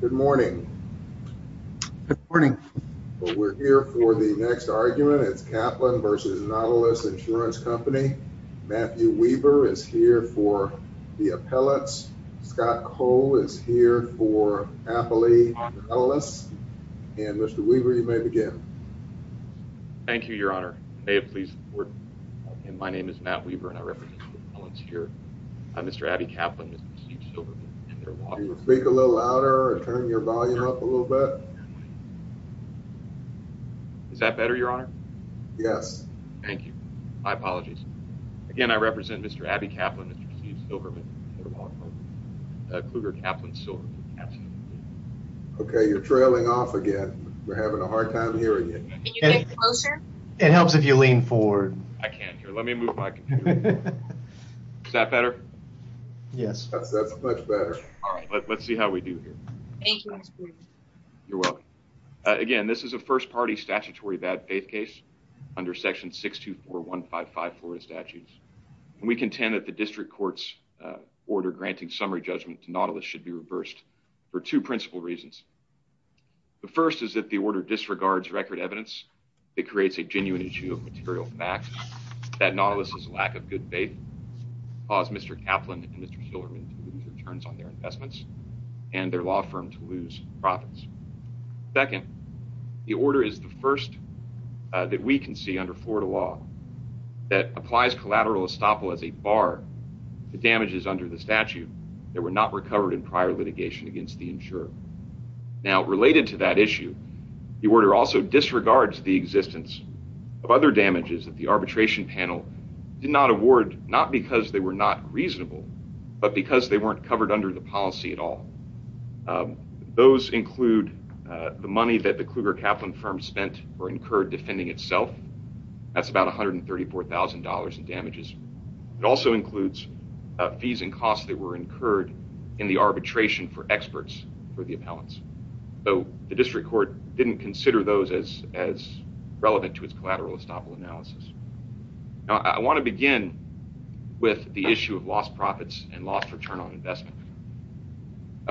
Good morning. Good morning, but we're here for the next argument. It's Kaplan versus Nautilus Insurance Company. Matthew Weaver is here for the appellants. Scott Cole is here for Appalachian Appellants. And Mr. Weaver, you may begin. Thank you, Your Honor. May it please the Court. My name is Matt Weaver and I represent the appellants here. Mr. Abbey Kaplan. Is that better, Your Honor? Yes. Thank you. My apologies. Again, I represent Mr. Abbey Kaplan v. Silverman. Kluger Kaplan v. Silverman. Okay, you're trailing off again. We're having a hard time hearing you. It helps if you lean forward. I can't hear. Let me move my computer. Is that better? Yes, that's much better. All right, let's see how we do here. You're welcome. Again, this is a first party statutory bad faith case under Section 624155 Florida Statutes. We contend that the district court's order granting summary judgment to Nautilus should be reversed for two principal reasons. The first is that the order disregards record evidence. It creates a genuine issue of material fact that Nautilus's lack of good faith caused Mr. Kaplan and Mr. Silverman to lose their terms on their investments and their law firm to lose profits. Second, the order is the first that we can see under Florida law that applies collateral estoppel as a bar to damages under the statute that were not recovered in prior litigation against the insurer. Now, related to that issue, the order also disregards the existence of other damages that the arbitration panel did not award, not because they were not reasonable, but because they weren't covered under the policy at all. Those include the money that the Kluger Kaplan firm spent or incurred defending itself. That's about $134,000 in damages. It also includes fees and costs that were incurred in the arbitration for experts for the appellants, though the district court didn't consider those as as relevant to its collateral estoppel analysis. Now I want to begin with the issue of lost profits and lost return on investment.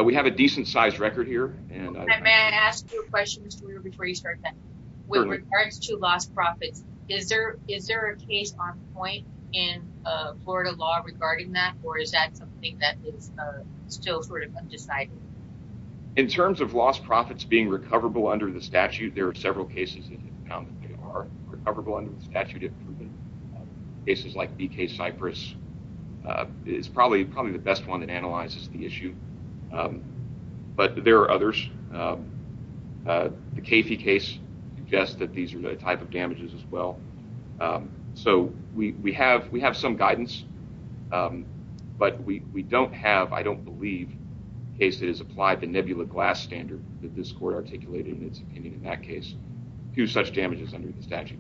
We have a decent sized record here. And may I ask you a question before you start with regards to lost profits? Is there is there a case on point in Florida law regarding that? Or is that something that is still sort of undecided? In terms of lost profits being recoverable under the statute, there are several cases that are recoverable under the statute of cases like BK Cypress is probably probably the best one that analyzes the issue, but there are others. The case suggests that these are the type of damages as well. So we have we have some guidance, but we don't have I don't believe case that is applied the nebula glass standard that this court articulated in its opinion. In that case, few such damages under the statute.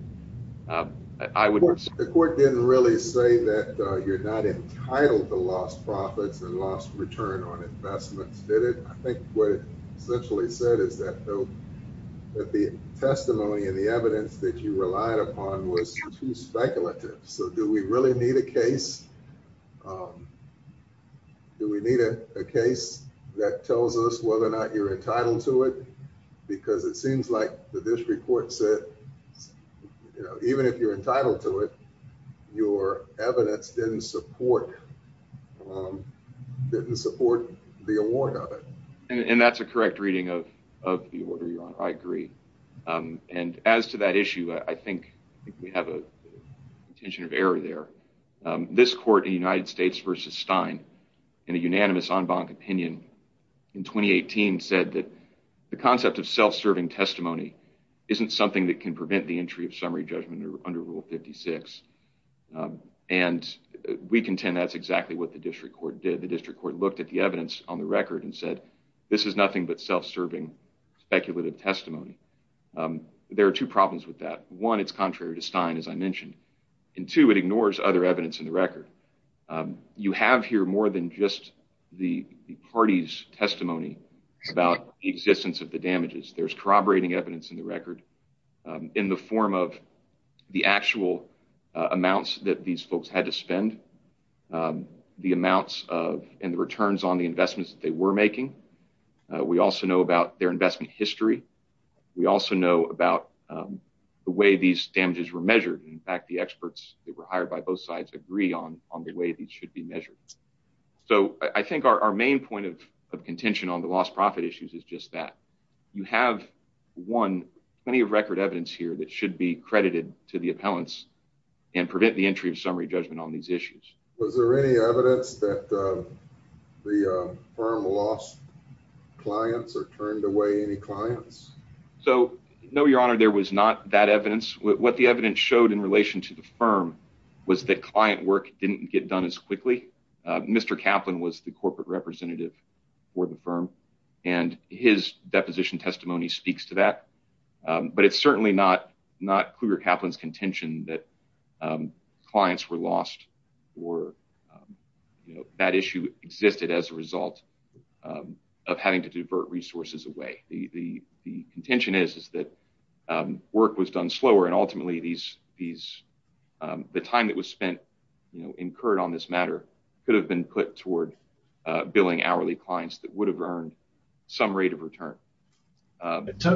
I would say the court didn't really say that you're not entitled to lost profits and lost return on investments. Did it? I think what it essentially said is that though that the testimony and the evidence that you relied upon was too speculative. So do we really need a case? Do we need a case that tells us whether or not you're entitled to it? Because it seems like that this report said, you know, didn't support, um, didn't support the award of it. And that's a correct reading of of the order. You're on. I agree. Um, and as to that issue, I think we have a contingent of error there. Um, this court, the United States versus Stein in a unanimous on bonk opinion in 2018 said that the concept of self serving testimony isn't something that can prevent the we contend that's exactly what the district court did. The district court looked at the evidence on the record and said this is nothing but self serving speculative testimony. Um, there are two problems with that. One, it's contrary to Stein, as I mentioned, and two, it ignores other evidence in the record. Um, you have here more than just the party's testimony about the existence of the damages. There's corroborating evidence in the record, um, in the form of the actual amounts that these folks had to spend, um, the amounts of and returns on the investments that they were making. We also know about their investment history. We also know about, um, the way these damages were measured. In fact, the experts that were hired by both sides agree on on the way these should be measured. So I think our main point of contention on the lost profit issues is just that you have one plenty of record evidence here that should be credited to the appellants and prevent the entry of summary judgment on these issues. Was there any evidence that, uh, the firm lost clients or turned away any clients? So no, your honor, there was not that evidence. What the evidence showed in relation to the firm was that client work didn't get done as quickly. Mr Kaplan was the corporate representative for the firm, and his deposition testimony speaks to that. But it's certainly not not cougar Kaplan's contention that, um, clients were lost or, um, you know, that issue existed as a result of having to divert resources away. The contention is that, um, work was done slower. And ultimately, these these, um, the time that was spent, you know, incurred on this matter could have been put toward billing hourly clients that would have earned some rate of return.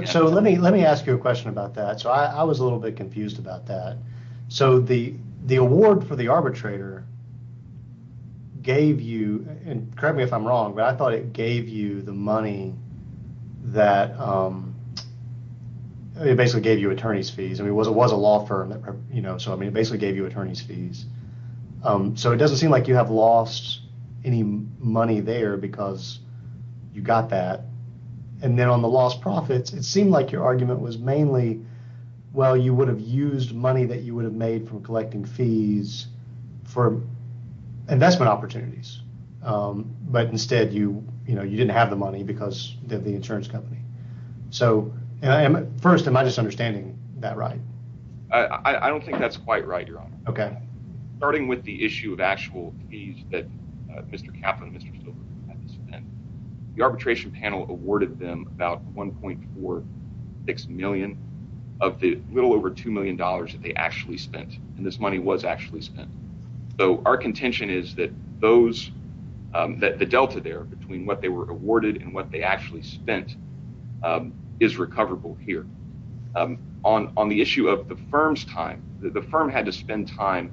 So let me let me ask you a question about that. So I was a little bit confused about that. So the the award for the arbitrator gave you and correct me if I'm wrong, but I thought it gave you the money that, um, it basically gave you attorney's fees. I mean, it was it was a law firm that, you know, so I mean, basically gave you attorney's fees. Um, so it doesn't seem like you have lost any money there because you got that. And then on the lost profits, it seemed like your Well, you would have used money that you would have made from collecting fees for investment opportunities. Um, but instead you, you know, you didn't have the money because the insurance company. So I am first. Am I just understanding that right? I don't think that's quite right. You're on. Okay. Starting with the issue of actual fees that Mr Kaplan, Mr. The arbitration panel awarded them about 1.46 million of the little over $2 million that they actually spent. And this money was actually spent. So our contention is that those that the delta there between what they were awarded and what they actually spent is recoverable here. On on the issue of the firm's time, the firm had to spend time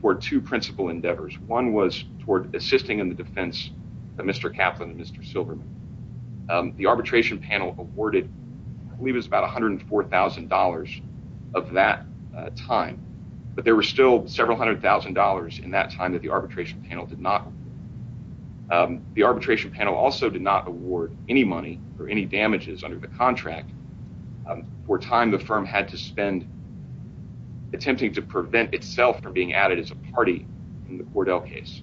for two principal endeavors. One was toward assisting in the defense, Mr. Kaplan and Mr. Silverman. The arbitration panel awarded, I believe is about $104,000 of that time. But there were still several $100,000 in that time that the arbitration panel did not. The arbitration panel also did not award any money or any damages under the contract. For time the firm had to spend attempting to prevent itself from being added as a party in Cordell case,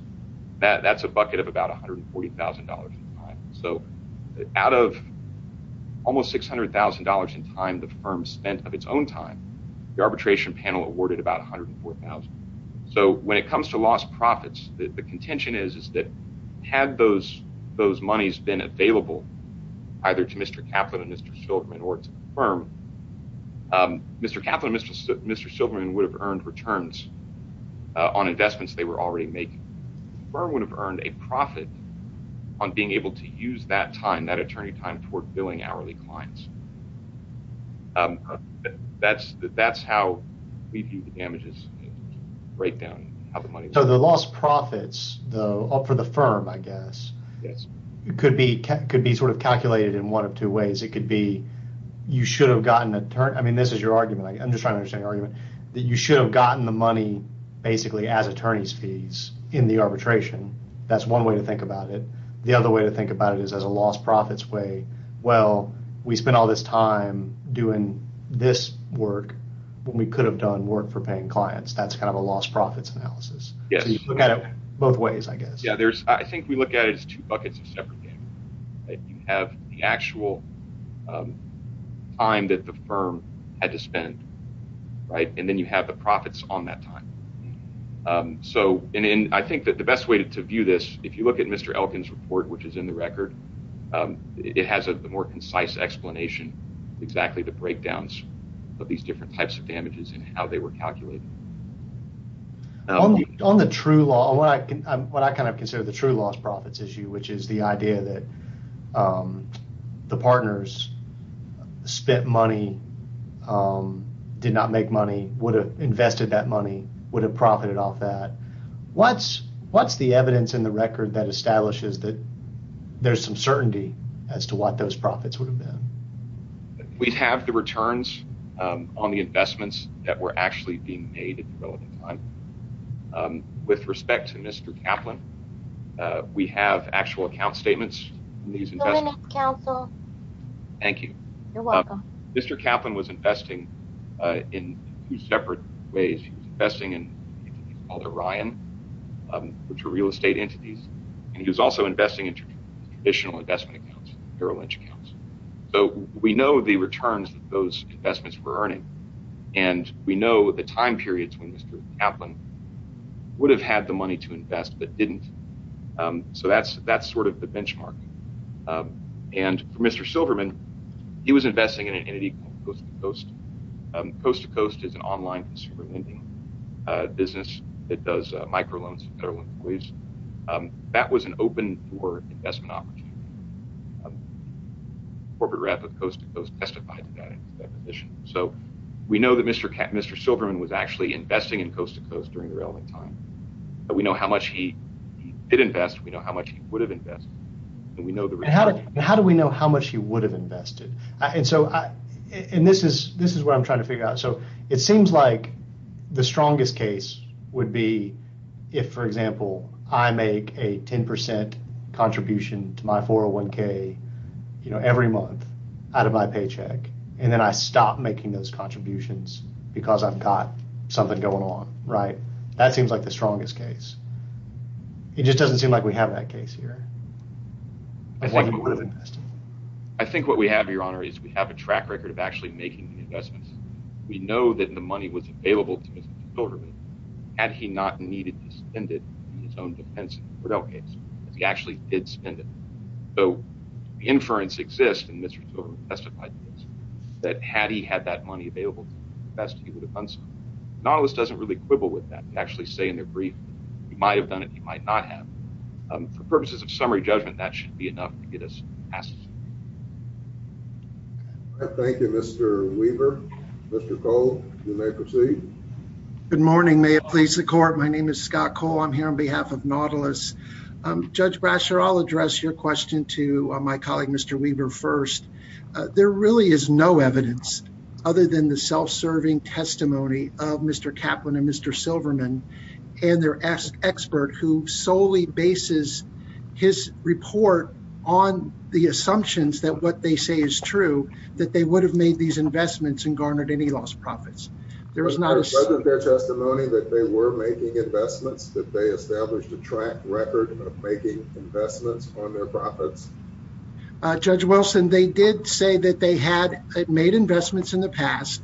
that that's a bucket of about $140,000. So out of almost $600,000 in time, the firm spent of its own time, the arbitration panel awarded about 104,000. So when it comes to lost profits, the contention is that had those those monies been available, either to Mr. Kaplan and Mr. Silverman or firm, Mr. Kaplan, Mr. Mr. Silverman would have earned returns on $140,000. So the loss profits, though, up for the firm, I guess, yes, it could be could be sort of calculated in one of two ways. It could be, you should have gotten a turn. I mean, this is your argument. I'm just trying to say argument that you should have gotten the money, basically as attorneys fees in the arbitration. That's one way to think about it. The other way to think about it is as a lost profits way. Well, we spent all this time doing this work, when we could have done work for paying clients. That's kind of a lost profits analysis. Yeah, you look at it both ways, I guess. Yeah, there's, I think we have the time that the firm had to spend, right, and then you have the profits on that time. So in in, I think that the best way to view this, if you look at Mr. Elkins report, which is in the record, it has a more concise explanation, exactly the breakdowns of these different types of damages and how they were calculated. On the on the true law, what I can, what I kind of consider the true lost profits issue, which is the idea that the partners spent money, did not make money would have invested that money would have profited off that. What's, what's the evidence in the record that establishes that there's some certainty as to what those profits would have been. We'd have the returns on the investments that were actually being made at the relevant time. With respect to Mr. Kaplan, we have actual account statements in these investments. Thank you. Mr. Kaplan was investing in two separate ways. He was investing in a company called Orion, which are real estate entities. And he was also investing in traditional investment accounts, Merrill Lynch accounts. So we know the returns that those investments would have been made at the time periods when Mr. Kaplan would have had the money to invest, but didn't. So that's that's sort of the benchmark. And for Mr. Silverman, he was investing in an entity called Coast to Coast. Coast to Coast is an online consumer lending business that does microloans and federal employees. That was an open for investment opportunity. Corporate rep of Coast to Coast testified to that position. So we know that Mr. Silverman was actually investing in Coast to Coast during the relevant time. We know how much he did invest, we know how much he would have invested, and we know the result. How do we know how much he would have invested? And this is what I'm trying to figure out. So it seems like the strongest case would be, if, for example, I make a 10% contribution to my paycheck, and then I stop making those contributions, because I've got something going on, right? That seems like the strongest case. It just doesn't seem like we have that case here. I think what we have, Your Honor, is we have a track record of actually making the investments. We know that the money was available to Mr. Silverman, had he not needed to spend it in his own defense in the Cordell case, as he actually did spend it. So the inference exists in Mr. Silverman's testified case, that had he had that money available to invest, he would have done so. Nautilus doesn't really quibble with that. They actually say in their brief, you might have done it, you might not have. For purposes of summary judgment, that should be enough to get us past this. Thank you, Mr. Weaver. Mr. Cole, you may proceed. Good morning. May it please the court. My name is Scott Cole. I'm here on behalf of Nautilus. Judge Brasher, I'll address your question to my colleague, Mr. Weaver, first. There really is no evidence, other than the self-serving testimony of Mr. Kaplan and Mr. Silverman, and their expert who solely bases his report on the assumptions that what they say is true, that they would have made these investments and garnered any lost profits. There was no evidence of their testimony that they were making investments, that they established a track record of making investments on their profits. Judge Wilson, they did say that they had made investments in the past,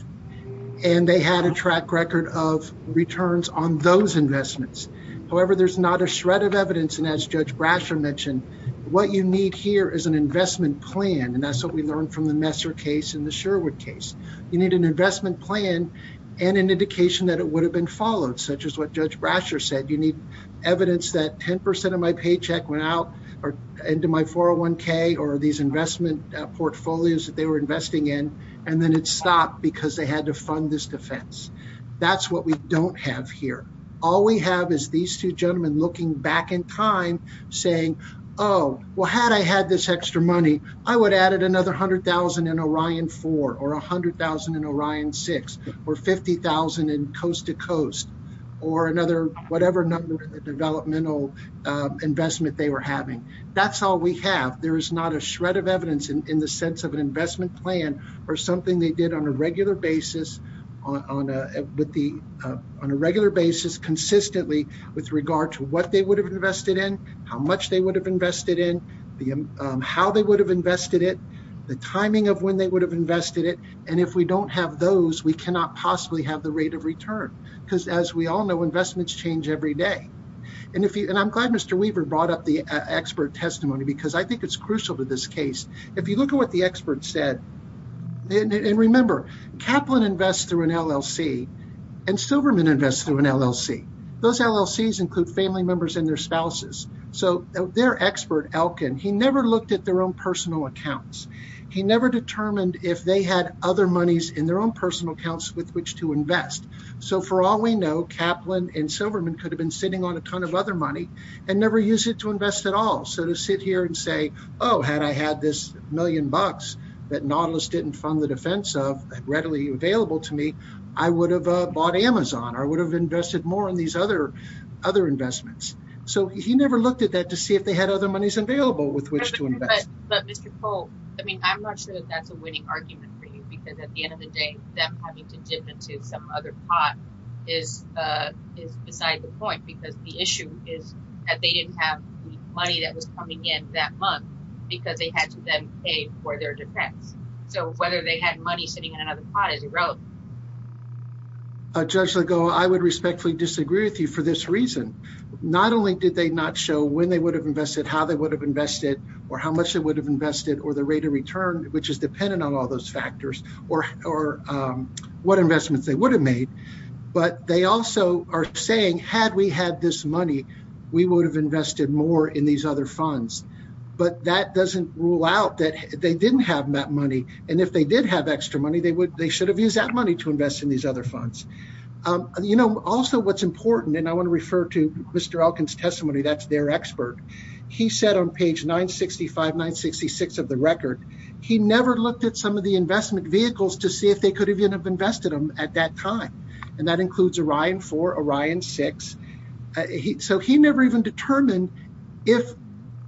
and they had a track record of returns on those investments. However, there's not a shred of evidence. And as Judge Brasher mentioned, what you need here is an investment plan. And that's what we learned from the Messer case and the Sherwood case. You need an investment plan, and an indication that it would have been followed, such as what Judge Brasher said, you need evidence that 10% of my paycheck went out into my 401k, or these investment portfolios that they were investing in, and then it stopped because they had to fund this defense. That's what we don't have here. All we have is these two gentlemen looking back in time, saying, oh, well, had I had this extra money, I would have added another 100,000 in Orion 4, or 100,000 in Orion 6, or 50,000 in Coast to Coast, or another whatever number of developmental investment they were having. That's all we have. There is not a shred of evidence in the sense of an investment plan, or something they did on a regular basis, on a regular basis consistently, with regard to what they would have invested in, how much they would have invested in, how they would have invested it, the timing of when they would have invested it. And if we don't have those, we cannot possibly have the rate of return. Because as we all know, investments change every day. And I'm glad Mr. Weaver brought up the expert testimony, because I think it's crucial to this case. If you look at what the expert said, and remember, Kaplan invests through an LLC, and Silverman invests through an LLC. Those LLCs include family members and their spouses. So their expert, Elkin, he never looked at their own personal accounts. He never determined if they had other monies in their own personal accounts with which to invest. So for all we know, Kaplan and Silverman could have been sitting on a ton of other money, and never use it to invest at all. So to sit here and say, Oh, had I had this million bucks, that Nautilus didn't fund the defense of readily available to me, I would have bought Amazon or would have invested more on these other, other investments. So he never looked at that to see if they had other monies available with which to invest. But Mr. Cole, I mean, I'm not sure that that's a winning argument for you. Because at the end of the day, them having to invest into some other pot is, is beside the point, because the issue is that they didn't have money that was coming in that month, because they had to then pay for their defense. So whether they had money sitting in another pot is irrelevant. Judge Legault, I would respectfully disagree with you for this reason. Not only did they not show when they would have invested, how they would have invested, or how much they would have invested or the rate of return, which is dependent on all those factors, or, or what investments they would have made. But they also are saying, had we had this money, we would have invested more in these other funds. But that doesn't rule out that they didn't have that money. And if they did have extra money, they would they should have used that money to invest in these other funds. You know, also, what's important, and I want to refer to Mr. Elkins testimony, that's their expert. He said on page 965 966 of the record, he never looked at some of the investment vehicles to see if they could even have invested them at that time. And that includes Orion for Orion six. So he never even determined if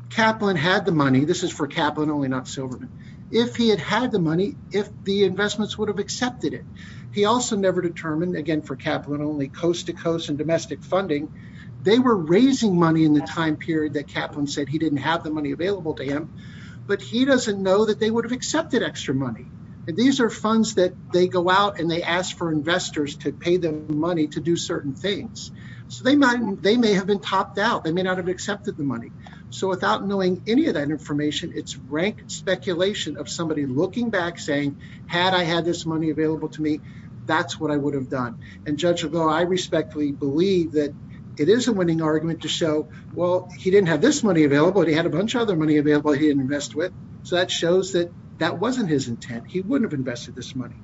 Kaplan had the money. This is for Kaplan only not Silverman. If he had had the money, if the investments would have accepted it. He also never determined again for Kaplan only coast to coast and domestic funding. They were raising money in the time period that Kaplan said he didn't have the money available to him. But he doesn't know that they would have accepted extra money. And these are funds that they go out and they ask for investors to pay them money to do certain things. So they might, they may have been topped out, they may not have accepted the money. So without knowing any of that information, it's rank speculation of somebody looking back saying, had I had this money available to me, that's what I would have done. And judge, although I respectfully believe that it is a winning argument to show, well, he didn't have this money available, he had a bunch of other money available, he invest with. So that shows that that wasn't his intent, he wouldn't have invested this money.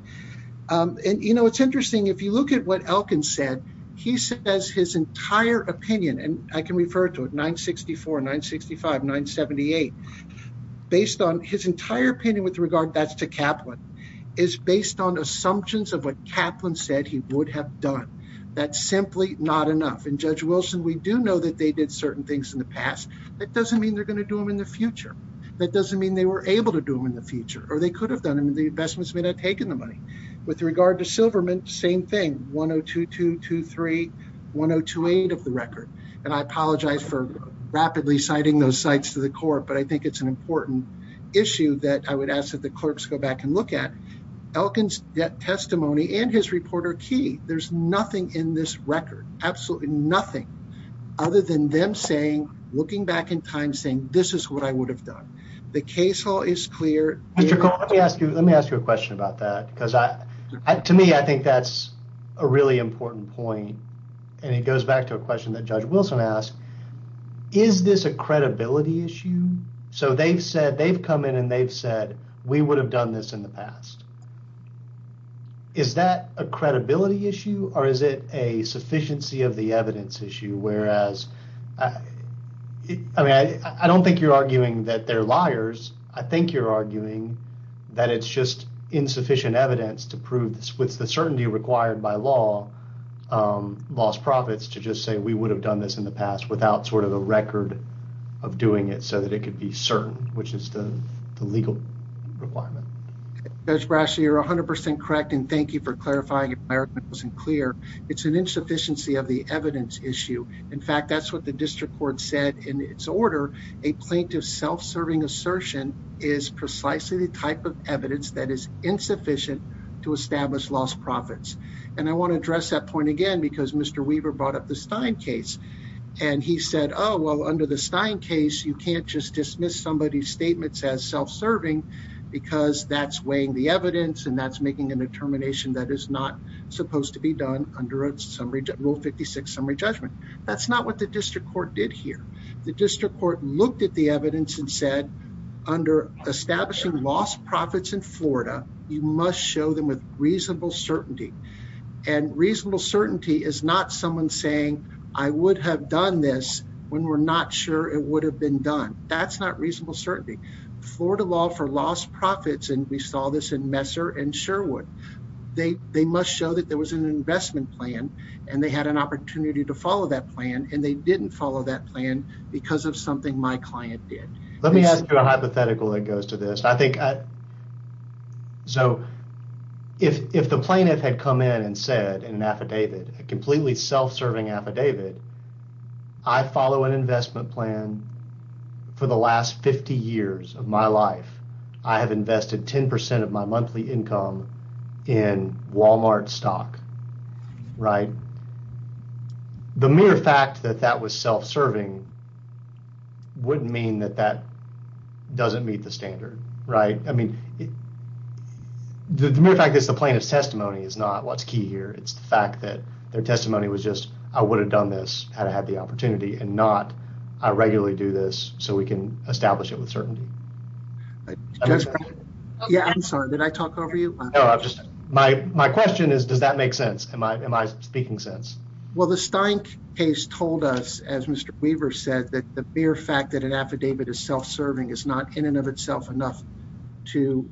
And you know, it's interesting, if you look at what Elkins said, he said as his entire opinion, and I can refer to it 964 965 978. Based on his entire opinion with regard that's to Kaplan is based on assumptions of what Kaplan said he would have done. That's simply not enough. And Judge Wilson, we do know that they did certain things in the past. That doesn't mean they're going to do in the future. That doesn't mean they were able to do them in the future, or they could have done and the investments may not take in the money. With regard to Silverman, same thing 122231028 of the record. And I apologize for rapidly citing those sites to the court. But I think it's an important issue that I would ask that the clerks go back and look at Elkins testimony and his reporter key, there's nothing in this record, absolutely nothing other than them saying, looking back in time saying this is what I would have done. The case law is clear. Mr. Cole, let me ask you, let me ask you a question about that. Because I, to me, I think that's a really important point. And it goes back to a question that Judge Wilson asked, is this a credibility issue? So they've said they've come in, and they've said, we would have done this in the past. Is that a credibility issue? Or is it a sufficiency of the evidence issue? Whereas I mean, I don't think you're arguing that they're liars. I think you're arguing that it's just insufficient evidence to prove this with the certainty required by law, lost profits to just say we would have done this in the past without sort of a record of doing it so that it could be certain, which is the legal requirement. Judge Brashley, you're 100% correct. And thank you for clarifying. It wasn't clear. It's an insufficiency of the evidence. And that's why the district court said in its order, a plaintiff self serving assertion is precisely the type of evidence that is insufficient to establish lost profits. And I want to address that point again, because Mr. Weaver brought up the Stein case. And he said, Oh, well, under the Stein case, you can't just dismiss somebody's statements as self serving, because that's weighing the evidence and that's making a determination that is not supposed to be done under Rule 56, summary judgment. That's not what the district court did here. The district court looked at the evidence and said, under establishing lost profits in Florida, you must show them with reasonable certainty. And reasonable certainty is not someone saying, I would have done this when we're not sure it would have been done. That's not reasonable certainty. Florida law for lost profits, and we saw this in Messer and Sherwood, they must show that there was an investment plan, and they had an opportunity to follow that plan, and they didn't follow that plan, because of something my client did. Let me ask you a hypothetical that goes to this, I think. So if the plaintiff had come in and said in an affidavit, a completely self serving affidavit, I follow an investment plan. For the last 50 years of my life, I have invested 10% of my monthly income in Walmart stock. Right? The mere fact that that was self serving, wouldn't mean that that doesn't meet the standard, right? I mean, the mere fact that's the plaintiff's testimony is not what's key here. It's the fact that their testimony was just, I would have done this had I had the opportunity and not, I regularly do this, so we can establish it with certainty. I'm sorry, did I talk over you? My question is, does that make sense? Am I speaking sense? Well, the Stein case told us, as Mr. Weaver said, that the mere fact that an affidavit is self serving is not in and of itself enough to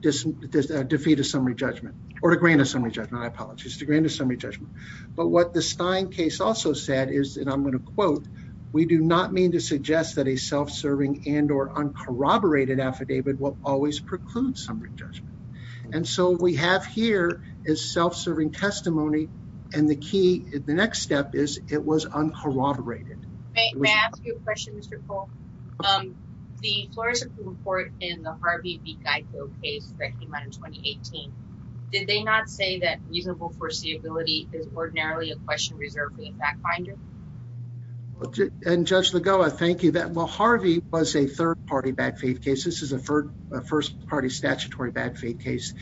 defeat a summary judgment, or to grant a summary judgment, I apologize, to grant a summary judgment. But what the Stein case also said is, and I'm going to quote, we do not mean to suggest that a self serving and or uncorroborated affidavit will always preclude summary judgment. And so we have here is self serving testimony. And the key, the next step is it was uncorroborated. May I ask you a question, Mr. Polk? The Florida Supreme Court in the Harvey B. Geico case that came out in 2018, did they not say that reasonable foreseeability is ordinarily a question reserved for the fact finder? And Judge Lagoa, thank you that well, Harvey was a third party bad faith case. This is a third first party statutory bad faith case.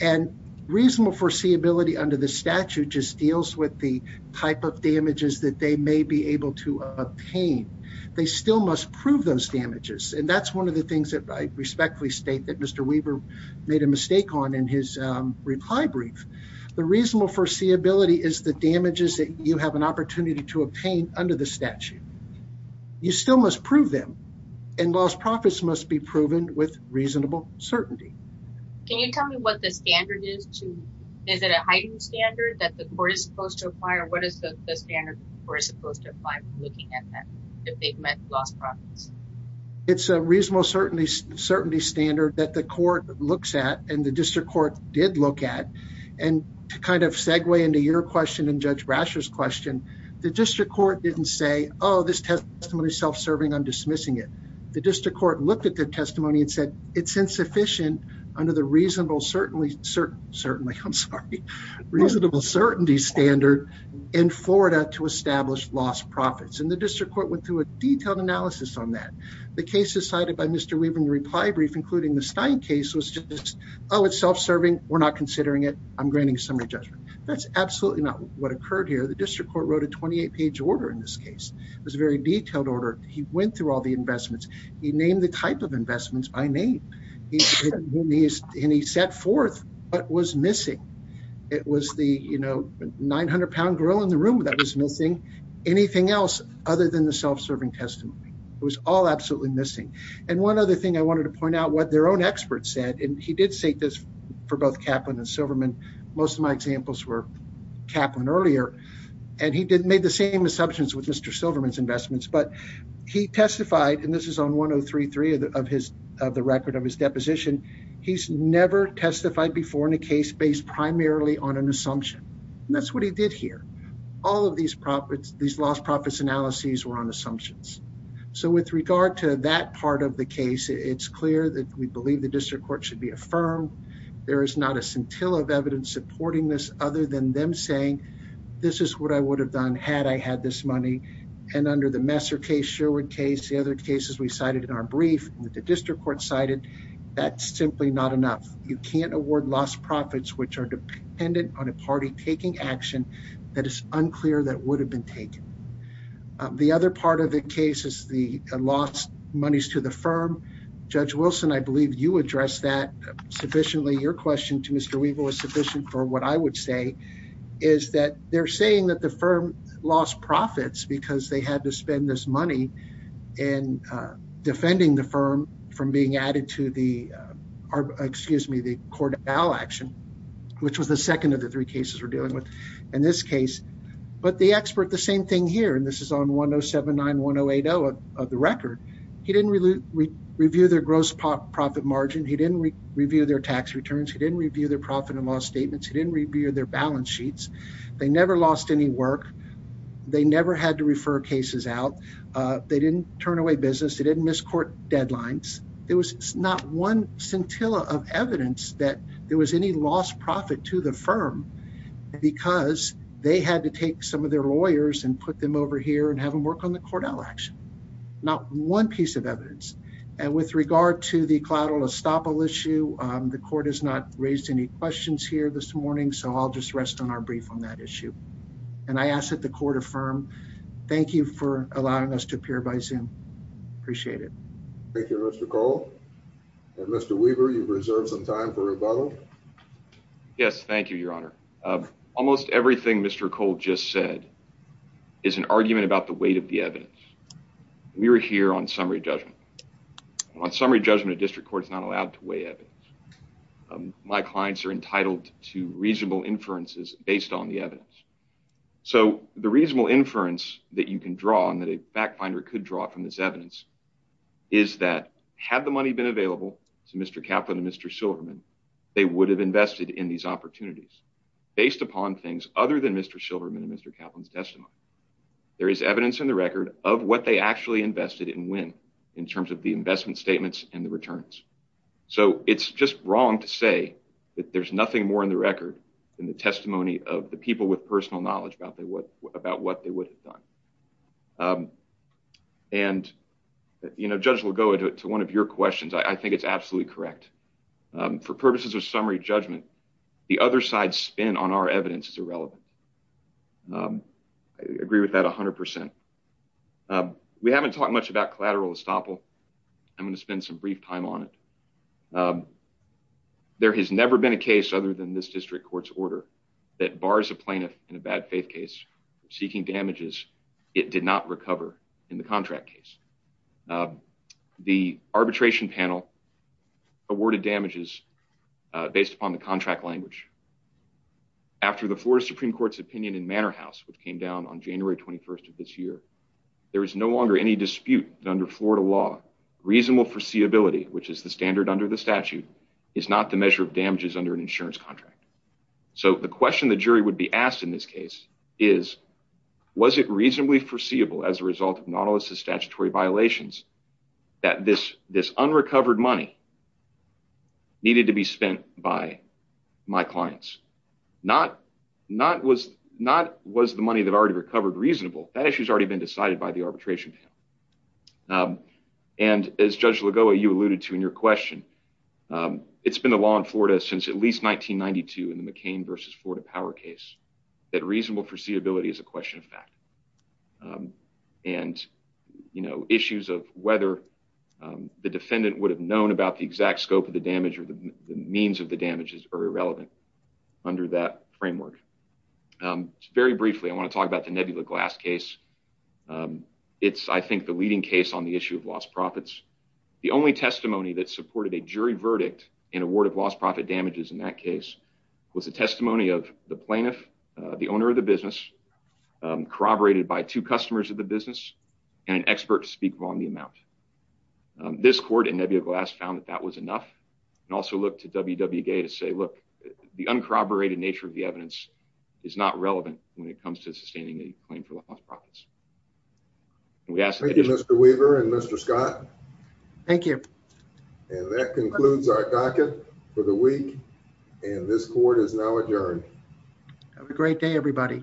And reasonable foreseeability under the statute just deals with the type of damages that they may be able to obtain, they still must prove those damages. And that's one of the things that I respectfully state that Mr. Weaver made a mistake on in his reply brief. The reasonable foreseeability is the damages that you have an opportunity to obtain under the statute. You still must prove them. And lost profits must be proven with reasonable certainty. Can you tell me what the standard is? Is it a heightened standard that the court is supposed to apply? Or what is the standard that the court is supposed to apply when looking at that, if they've met lost profits? It's a reasonable certainty standard that the court looks at and the district court did look at. And to kind of segue into your question and Judge Brasher's question, the district court didn't say, oh, this testimony is self serving, I'm dismissing it. The district court looked at the testimony and said, it's insufficient under the reasonable certainly certain, certainly, I'm sorry, reasonable certainty standard in Florida to establish lost profits. And the district court went through a detailed analysis on that. The cases cited by Mr. Weaver in the reply brief, including the Stein case was just, oh, it's self serving. We're not considering it. I'm absolutely not what occurred here. The district court wrote a 28 page order. In this case, it was a very detailed order, he went through all the investments, he named the type of investments by name. And he set forth what was missing. It was the, you know, 900 pound grill in the room that was missing anything else other than the self serving testimony. It was all absolutely missing. And one other thing I wanted to point out what their own experts said, and he did say this, for both Kaplan and Silverman, most of my examples were Kaplan earlier. And he didn't made the same assumptions with Mr. Silverman's investments, but he testified and this is on 1033 of his of the record of his deposition. He's never testified before in a case based primarily on an assumption. And that's what he did here. All of these profits, these lost profits analyses were on assumptions. So with regard to that part of the case, it's clear that we believe the district court should be supporting this until of evidence supporting this other than them saying, this is what I would have done had I had this money. And under the Messer case, Sherwood case, the other cases we cited in our brief that the district court cited, that's simply not enough. You can't award lost profits, which are dependent on a party taking action that is unclear that would have been taken. The other part of the case is the lost monies to the firm. Judge Wilson, I believe you addressed that sufficiently. Your question to Mr. Weaver was sufficient for what I would say is that they're saying that the firm lost profits because they had to spend this money and defending the firm from being added to the excuse me, the court action, which was the second of the three cases we're dealing with in this case. But the expert, the same thing here and this is on 10791080 of the record. He didn't really review their gross profit margin. He didn't review their tax returns. He didn't review their profit and loss statements. He didn't review their balance sheets. They never lost any work. They never had to refer cases out. They didn't turn away business. They didn't miss court deadlines. There was not one scintilla of evidence that there was any lost profit to the firm because they had to take some of their lawyers and put them over here and have them work on the Cordell action. Not one piece of regard to the collateral estoppel issue. Um, the court has not raised any questions here this morning, so I'll just rest on our brief on that issue. And I asked that the court affirm. Thank you for allowing us to appear by zoom. Appreciate it. Thank you, Mr Cole. Mr Weaver, you've reserved some time for rebuttal. Yes, thank you, Your Honor. Almost everything Mr Cole just said is an argument about the weight of the evidence. We were here on summary judgment on summary judgment. District court is not allowed to weigh evidence. My clients are entitled to reasonable inferences based on the evidence. So the reasonable inference that you can draw on that a fact finder could draw from this evidence is that had the money been available to Mr Kaplan and Mr Silverman, they would have invested in these opportunities based upon things other than Mr Silverman and Mr Kaplan's testimony. There is evidence in the record of what they actually invested in win in terms of the investment statements and the returns. So it's just wrong to say that there's nothing more in the record than the testimony of the people with personal knowledge about what about what they would have done. Um, and, you know, judge will go into one of your questions. I think it's absolutely correct. Um, for purposes of summary judgment, the other side spin on our evidence is irrelevant. Um, I agree with that 100%. Um, we haven't talked much about collateral estoppel. I'm going to spend some brief time on it. Um, there has never been a case other than this district court's order that bars a plaintiff in a bad faith case seeking damages. It did not recover in the contract case. Uh, the arbitration panel awarded damages based upon the contract language after the floor of Supreme Court's opinion in January 21st of this year. There is no longer any dispute under Florida law. Reasonable foreseeability, which is the standard under the statute, is not the measure of damages under an insurance contract. So the question the jury would be asked in this case is, was it reasonably foreseeable as a result of Nautilus is statutory violations that this this unrecovered money needed to be spent by my clients? Not not was not was the money that already recovered reasonable. That issue has already been decided by the arbitration panel. Um, and as Judge Lagoa, you alluded to in your question, um, it's been the law in Florida since at least 1992 in the McCain versus Florida power case that reasonable foreseeability is a question of fact. Um, and, you know, issues of whether, um, the defendant would have known about the exact scope of the damage or the means of the damages are irrelevant under that framework. Um, very briefly, I want to talk about the nebula glass case. Um, it's I think the leading case on the issue of lost profits. The only testimony that supported a jury verdict in award of lost profit damages in that case was a testimony of the plaintiff, the owner of the business, um, corroborated by two customers of the business and an expert to speak on the amount. Um, this court and nebula glass found that that was enough and also looked to W. W. Gay to say, look, the uncorroborated nature of the evidence is not relevant when it comes to sustaining a claim for lost profits. We ask you, Mr Weaver and Mr Scott. Thank you. And that concludes our docket for the week. And this court is now adjourned. Have a great day, everybody.